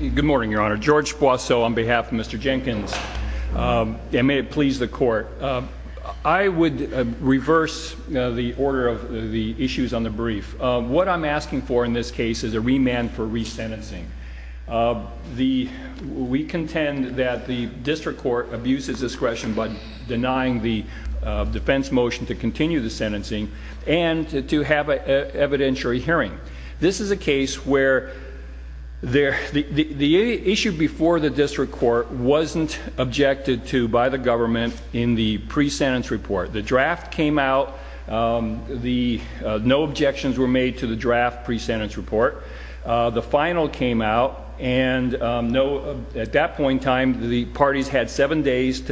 Good morning, Your Honor. George Boisseau on behalf of Mr. Jenkins, and may it please the court. I would reverse the order of the issues on the brief. What I'm asking for in this case is a remand for resentencing. We contend that the district court abuses discretion by denying the defense motion to continue the sentencing and to have an evidentiary hearing. This is a case where the issue before the district court wasn't objected to by the government in the pre-sentence report. The draft came out, no objections were made to the draft pre-sentence report. The final came out, and at that point in time the parties had seven days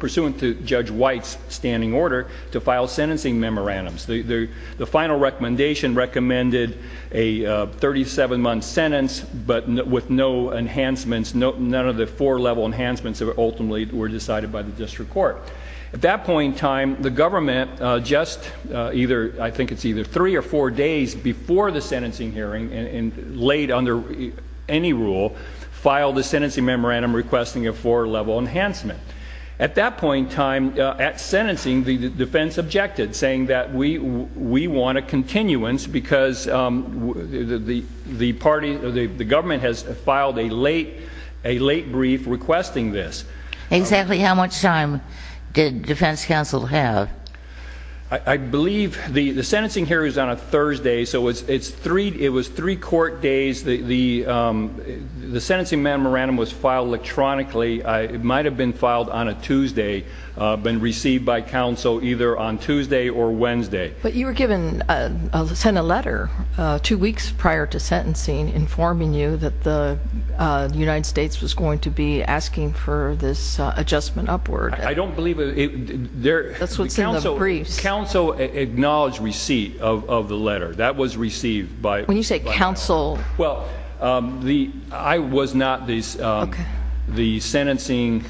pursuant to Judge White's standing to file sentencing memorandums. The final recommendation recommended a 37-month sentence, but with no enhancements, none of the four-level enhancements ultimately were decided by the district court. At that point in time, the government just either, I think it's either three or four days before the sentencing hearing, and late under any rule, filed the sentencing memorandum requesting a four-level enhancement. At that point in time, at defense objected, saying that we want a continuance because the party, the government has filed a late brief requesting this. Exactly how much time did defense counsel have? I believe the sentencing hearing was on a Thursday, so it was three court days. The sentencing memorandum was filed electronically. It might have been filed on a Tuesday, been received by counsel either on Tuesday or Wednesday. But you were given, sent a letter two weeks prior to sentencing informing you that the United States was going to be asking for this adjustment upward. I don't believe it. That's what's in the briefs. Counsel acknowledged receipt of the letter. That was received by... When you say counsel... Well, I was not the sentencing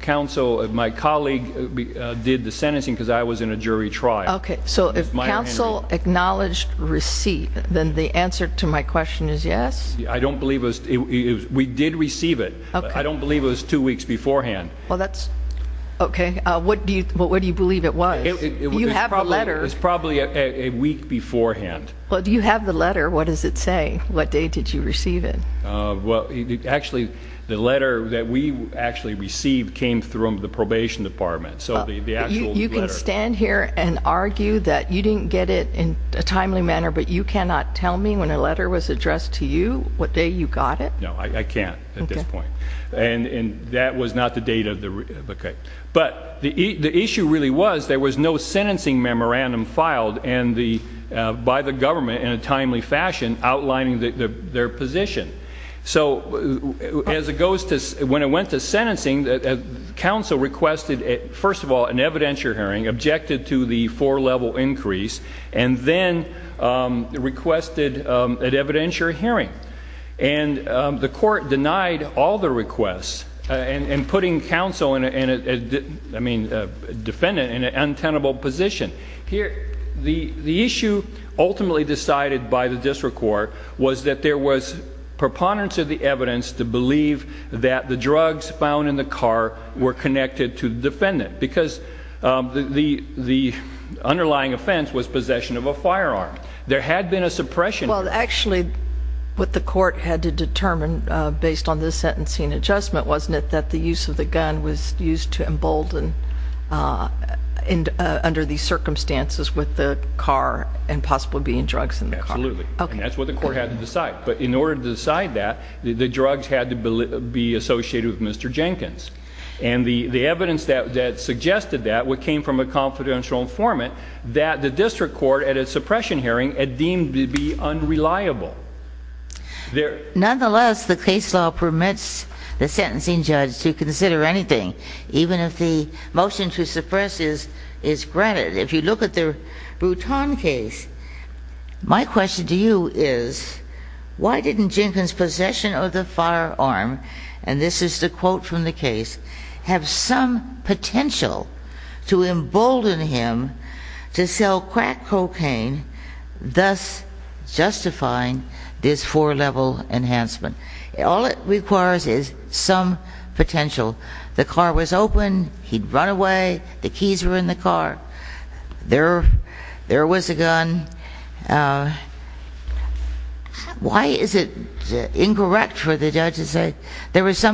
counsel. My colleague did the sentencing because I was in a jury trial. Okay, so if counsel acknowledged receipt, then the answer to my question is yes? I don't believe it. We did receive it. I don't believe it was two weeks beforehand. Well, that's okay. What do you believe it was? You have a letter. It's probably a week beforehand. Well, do you have the letter? What does it say? What day did you receive it? Well, actually the letter that we actually received came from the probation department. So the actual letter... You can stand here and argue that you didn't get it in a timely manner, but you cannot tell me when a letter was addressed to you what day you got it? No, I can't at this point. And that was not the date of the... Okay, but the issue really was there was no sentencing memorandum filed by the government in a timely fashion outlining their position. So as it goes to... When it went to sentencing, counsel requested, first of all, an evidentiary hearing, objected to the four-level increase, and then requested an evidentiary hearing. And the court denied all the requests, and putting counsel in a... I mean, defendant in an untenable position. Here, the issue ultimately decided by the district court was that there was preponderance of the evidence to believe that the drugs found in the car were connected to the defendant, because the underlying offense was possession of a firearm. There had been a suppression... Well, actually what the court had to determine based on this sentencing adjustment wasn't it that the use of the gun was used to embolden under these circumstances with the car and possible being drugs in the car? Absolutely, and that's what the court had to decide. But in order to decide that, the drugs had to be associated with Mr. Jenkins. And the evidence that suggested that, what came from a confidential informant, that the district court at a suppression hearing had deemed to be unreliable. Nonetheless, the case law permits the sentencing judge to consider anything, even if the motion to suppress is granted. If you look at the Bruton case, my question to you is, why didn't this, and this is the quote from the case, have some potential to embolden him to sell crack cocaine, thus justifying this four-level enhancement? All it requires is some potential. The car was open, he'd run away, the keys were in the car, there was some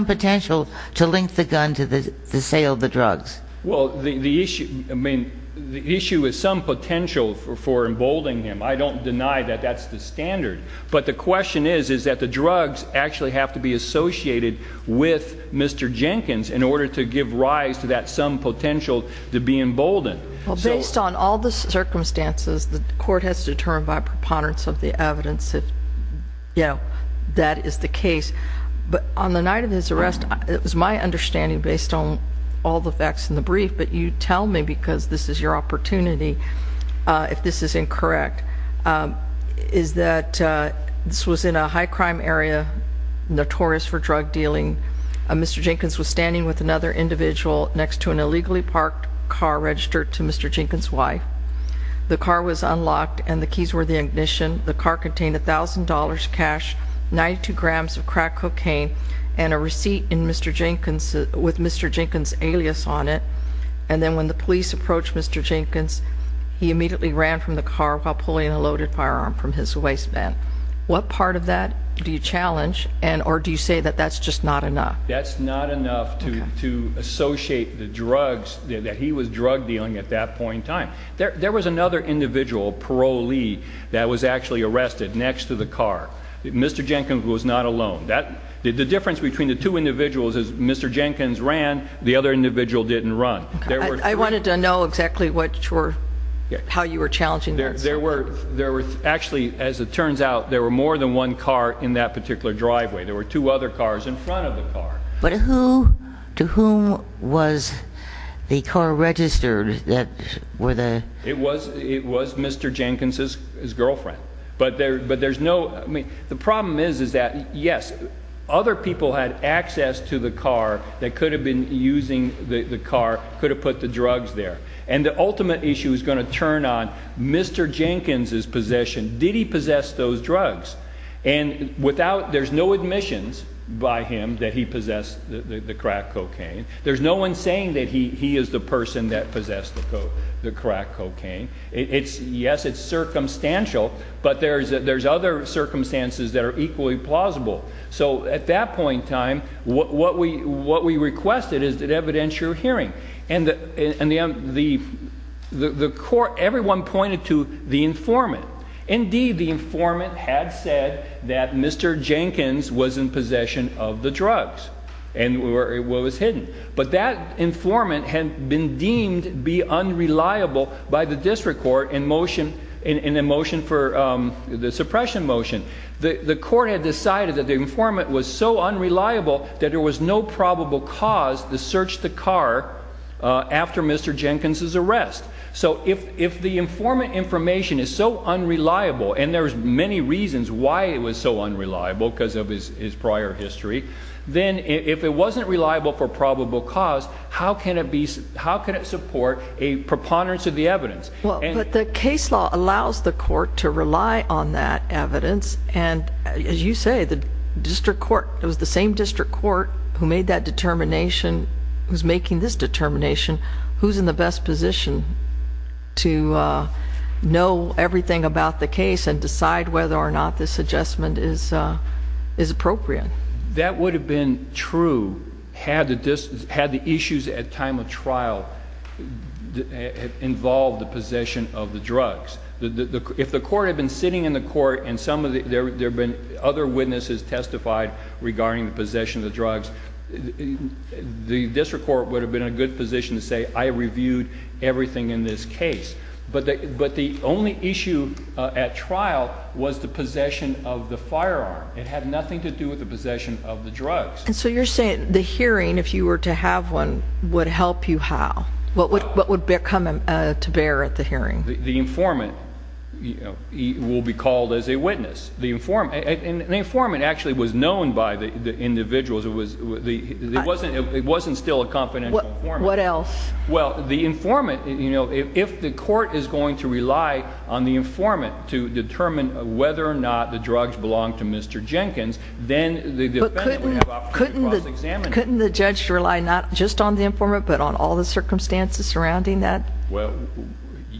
potential to link the gun to the sale of the drugs. Well, the issue, I mean, the issue is some potential for emboldening him. I don't deny that that's the standard, but the question is, is that the drugs actually have to be associated with Mr. Jenkins in order to give rise to that some potential to be emboldened. Based on all the circumstances, the court has determined by preponderance of the rest, it was my understanding based on all the facts in the brief, but you tell me because this is your opportunity, if this is incorrect, is that this was in a high-crime area notorious for drug dealing. Mr. Jenkins was standing with another individual next to an illegally parked car registered to Mr. Jenkins' wife. The car was unlocked and the keys were the ignition. The car contained a crack cocaine and a receipt in Mr. Jenkins with Mr. Jenkins' alias on it. And then when the police approached Mr. Jenkins, he immediately ran from the car while pulling a loaded firearm from his waistband. What part of that do you challenge and or do you say that that's just not enough? That's not enough to to associate the drugs that he was drug dealing at that point in time. There was another individual parolee that was actually arrested next to the car. Mr. Jenkins ran, the other individual didn't run. I wanted to know exactly how you were challenging that. There were actually, as it turns out, there were more than one car in that particular driveway. There were two other cars in front of the car. But who to whom was the car registered? It was Mr. Jenkins' girlfriend. But there's no, I mean the problem is is that yes, other people had access to the car that could have been using the car, could have put the drugs there. And the ultimate issue is going to turn on Mr. Jenkins' possession. Did he possess those drugs? And without, there's no admissions by him that he possessed the crack cocaine. There's no one saying that he is the person that possessed the crack cocaine. It's, yes, it's circumstances that are equally plausible. So at that point in time, what we requested is that evidentiary hearing. And the court, everyone pointed to the informant. Indeed, the informant had said that Mr. Jenkins was in possession of the drugs and where it was hidden. But that informant had been deemed be unreliable by the district court in motion, in a motion for the suppression motion. The court had decided that the informant was so unreliable that there was no probable cause to search the car after Mr. Jenkins' arrest. So if the informant information is so unreliable, and there's many reasons why it was so unreliable because of his prior history, then if it wasn't reliable for probable cause, how can it be, how can it support a preponderance of the evidence? Well, but the case law allows the court to rely on that evidence. And as you say, the district court, it was the same district court who made that determination, who's making this determination, who's in the best position to, uh, know everything about the case and decide whether or not this adjustment is, uh, is appropriate. That would have been true had the distance had the issues at time of trial involved the possession of the drugs. The district court would have been in a good position to say, I reviewed everything in this case. But the only issue at trial was the possession of the firearm. It had nothing to do with the possession of the drugs. And so you're saying the hearing, if you were to have one, would help you how? What would come to bear at the hearing? The informant will be called as a witness. The informant actually was known by the individuals. It wasn't still a confidential informant. What else? Well, the informant, you know, if the court is going to rely on the informant to determine whether or not the drugs belong to Mr. Jenkins, then the defendant would have the opportunity to cross-examine him. Couldn't the judge rely not just on the informant, but on all the circumstances surrounding that? Well,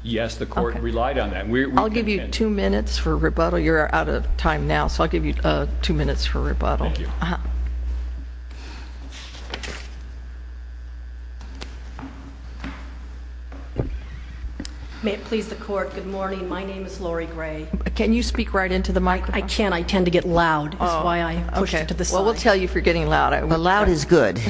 yes, the court relied on that. I'll give you two minutes for rebuttal. You're out of time now, so I'll give you two minutes for rebuttal. May it please the court. Good morning. My name is Lori Gray. Can you speak right into the mic? I can't. I tend to get loud. That's why I pushed it to the side. Well, we'll tell you if you're getting loud. The loud is good.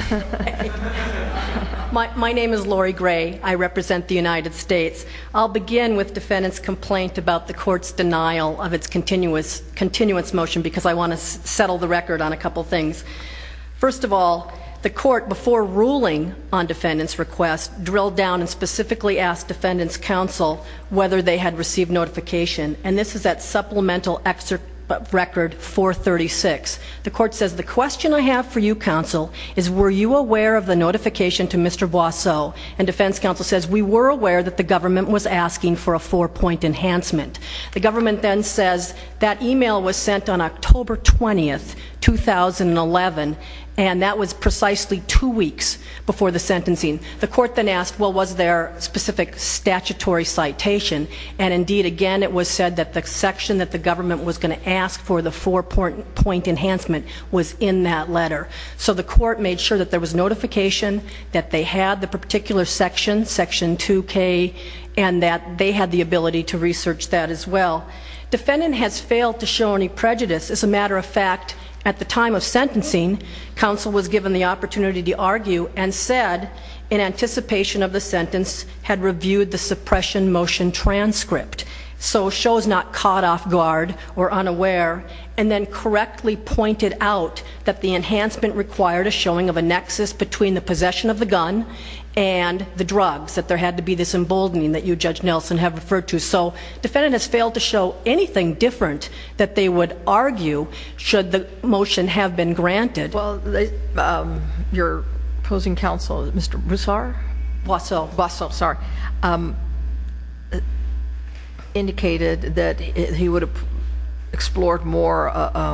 My name is Lori Gray. I represent the United States. I'll begin with defendant's complaint about the court's denial of its continuance motion, because I want to settle the record on a couple things. First of all, the court, before ruling on defendant's request, drilled down and specifically asked defendant's counsel whether they had received notification, and this is that supplemental record 436. The court says, the question I have for you, counsel, is were you aware of the notification to Mr. Boisseau and defense counsel says, we were aware that the government was asking for a four point enhancement. The government then says that email was sent on October 20th, 2011, and that was precisely two weeks before the sentencing. The court then asked, well, was there specific statutory citation, and indeed, again, it was said that the section that the government was going to ask for the four point enhancement was in that letter. So the court made sure that there was notification, that they had the particular section, section 2K, and that they had the ability to research that as well. Defendant has failed to show any prejudice. As a matter of fact, at the time of sentencing, counsel was given the opportunity to argue and said, in anticipation of the sentence, had reviewed the suppression motion transcript, so shows not caught off guard or unaware, and then correctly pointed out that the enhancement required a showing of a nexus between the possession of the gun and the drugs, that there had to be this emboldening that you, Judge Nelson, have referred to. So defendant has failed to show anything different that they would argue should the motion have been granted. Well, your opposing counsel, Mr. Boisseau, indicated that he would have explored more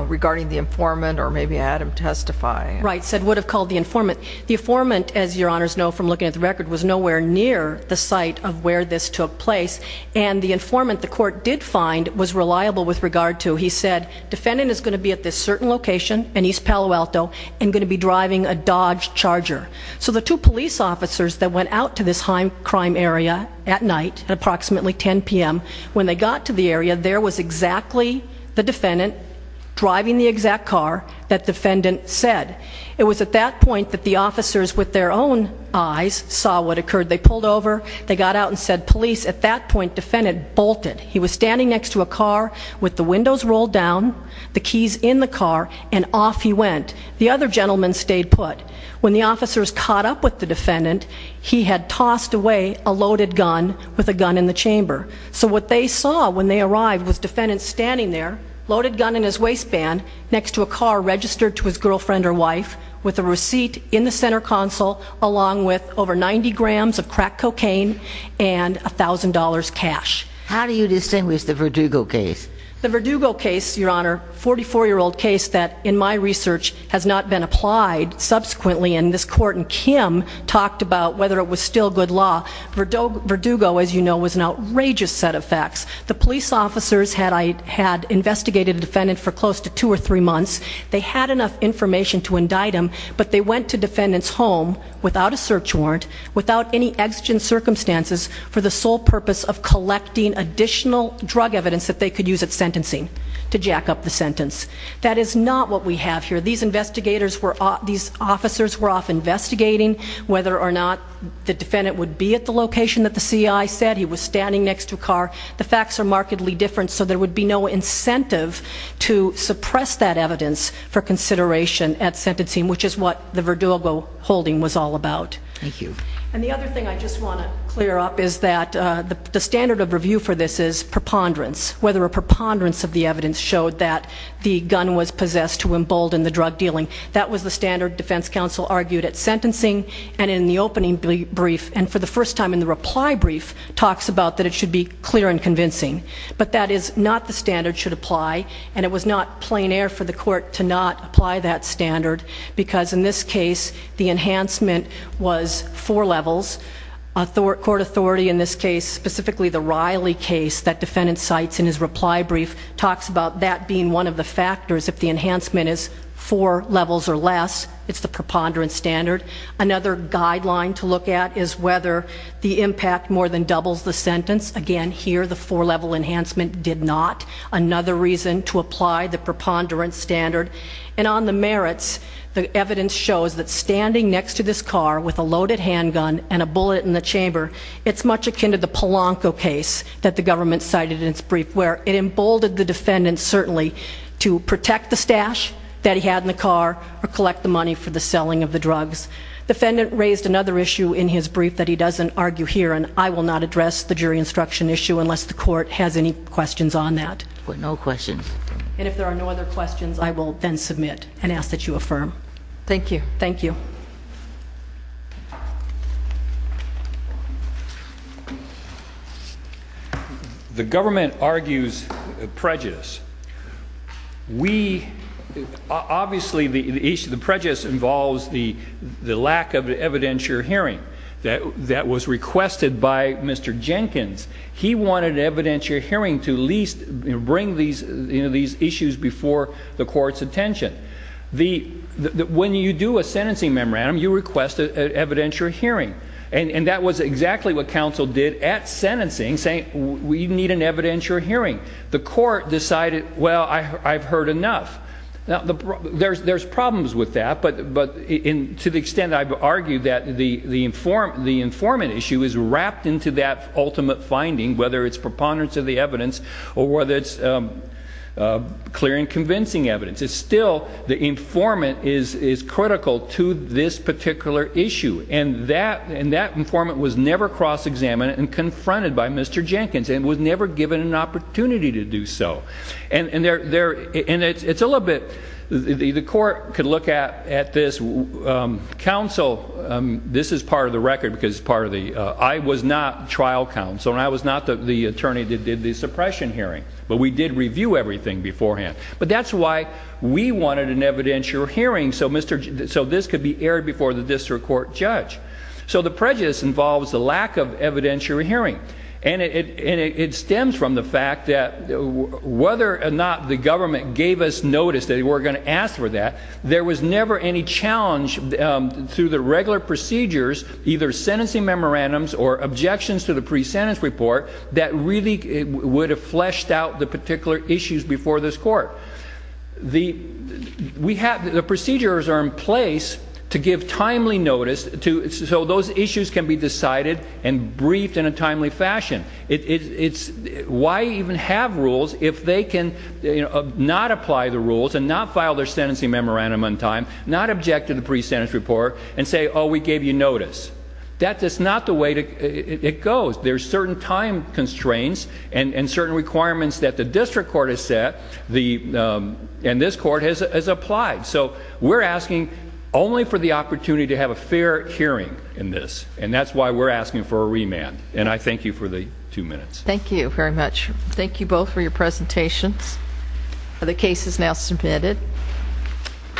regarding the informant or maybe had him testify. Right, said would have called the informant. The informant, as your honors know from looking at the record, was nowhere near the site of where this took place, and the informant the court did find was reliable with regard to, he said, defendant is going to be at this certain location in East Palo Alto and going to be driving a Dodge Charger. So the two police officers that went out to this high crime area at night, at approximately 10 p.m., when they got to the area, there was exactly the defendant driving the exact car that defendant said. It was at that point that the officers with their own eyes saw what occurred. They pulled over, they got out and said, police. At that point, defendant bolted. He was standing next to a car with the windows rolled down, the keys in the car, and off he went. The other gentleman stayed put. When the officers caught up with the defendant, he had tossed away a loaded gun with a gun in the chamber. So what they saw when they arrived was defendant standing there, loaded gun in his waistband, next to a car registered to his girlfriend or wife, with a receipt in the center console, along with over 90 grams of crack cocaine and $1,000 cash. How do you distinguish the Verdugo case? The Verdugo case, Your Honor, 44-year-old case that, in my research, has not been applied. Subsequently, in this court, and Kim talked about whether it was still good law. Verdugo, as you know, was an outrageous set of facts. The police officers had investigated the defendant for close to two or three months. They had enough information to indict him, but they went to defendant's home without a search warrant, without any exigent circumstances, for the sole purpose of collecting additional drug evidence that they could use at sentencing to jack up the sentence. That is not what we have here. These investigators were, these officers were off investigating whether or not the defendant would be at the location that the CI said. He was standing next to a car. The facts are starkly different, so there would be no incentive to suppress that evidence for consideration at sentencing, which is what the Verdugo holding was all about. Thank you. And the other thing I just want to clear up is that the standard of review for this is preponderance, whether a preponderance of the evidence showed that the gun was possessed to embolden the drug dealing. That was the standard defense counsel argued at sentencing, and in the opening brief, and for the first time in the reply brief, talks about that it should be clear and convincing. But that is not the standard should apply, and it was not plein air for the court to not apply that standard, because in this case, the enhancement was four levels. Court authority in this case, specifically the Riley case that defendant cites in his reply brief, talks about that being one of the factors if the enhancement is four levels or less. It's the preponderance standard. Another guideline to look at is whether the impact more than doubles the sentence. Again, here, the four level enhancement did not. Another reason to apply the preponderance standard. And on the merits, the evidence shows that standing next to this car with a loaded handgun and a bullet in the chamber, it's much akin to the Polanco case that the government cited in its brief, where it emboldened the defendant, certainly to protect the stash that he had in the car or collect the money for the selling of the drugs. Defendant raised another issue in his the court has any questions on that? No questions. And if there are no other questions, I will then submit and ask that you affirm. Thank you. Thank you. The government argues prejudice. We obviously the issue. The prejudice involves the lack of evidentiary hearing that that was requested by Mr Jenkins. He wanted evidentiary hearing to least bring these these issues before the court's attention. The when you do a sentencing memorandum, you request evidentiary hearing. And that was exactly what council did at sentencing, saying we need an evidentiary hearing. The court decided, Well, I've heard enough. Now there's problems with that. But to the extent I've argued that the informant issue is wrapped into that ultimate finding, whether it's preponderance of the evidence or whether it's clear and convincing evidence, it's still the informant is critical to this particular issue. And that informant was never cross-examined and confronted by Mr Jenkins and was never given an opportunity to do so. And it's a little bit, the court could look at at this council. This is part of the record because part of the, I was not trial counsel and I was not the attorney that did the suppression hearing. But we did review everything beforehand. But that's why we wanted an evidentiary hearing so this could be aired before the district court judge. So the prejudice involves the lack of evidentiary hearing. And it stems from the fact that whether or not the government gave us notice that we're going to ask for that, there was never any challenge through the regular procedures, either sentencing memorandums or objections to the pre-sentence report, that really would have fleshed out the particular issues before this court. The procedures are in place to give timely notice so those issues can be decided and briefed in a timely fashion. It's why even have rules if they can not apply the rules and not file their sentencing memorandum on time, not object to the pre-sentence report and say oh we gave you notice. That is not the way it goes. There's certain time constraints and certain requirements that the district court has set and this court has applied. So we're asking only for the opportunity to have a fair hearing in this and that's why we're asking for a remand. And I thank you for your time. Thank you very much. Thank you both for your presentations. The case is now submitted.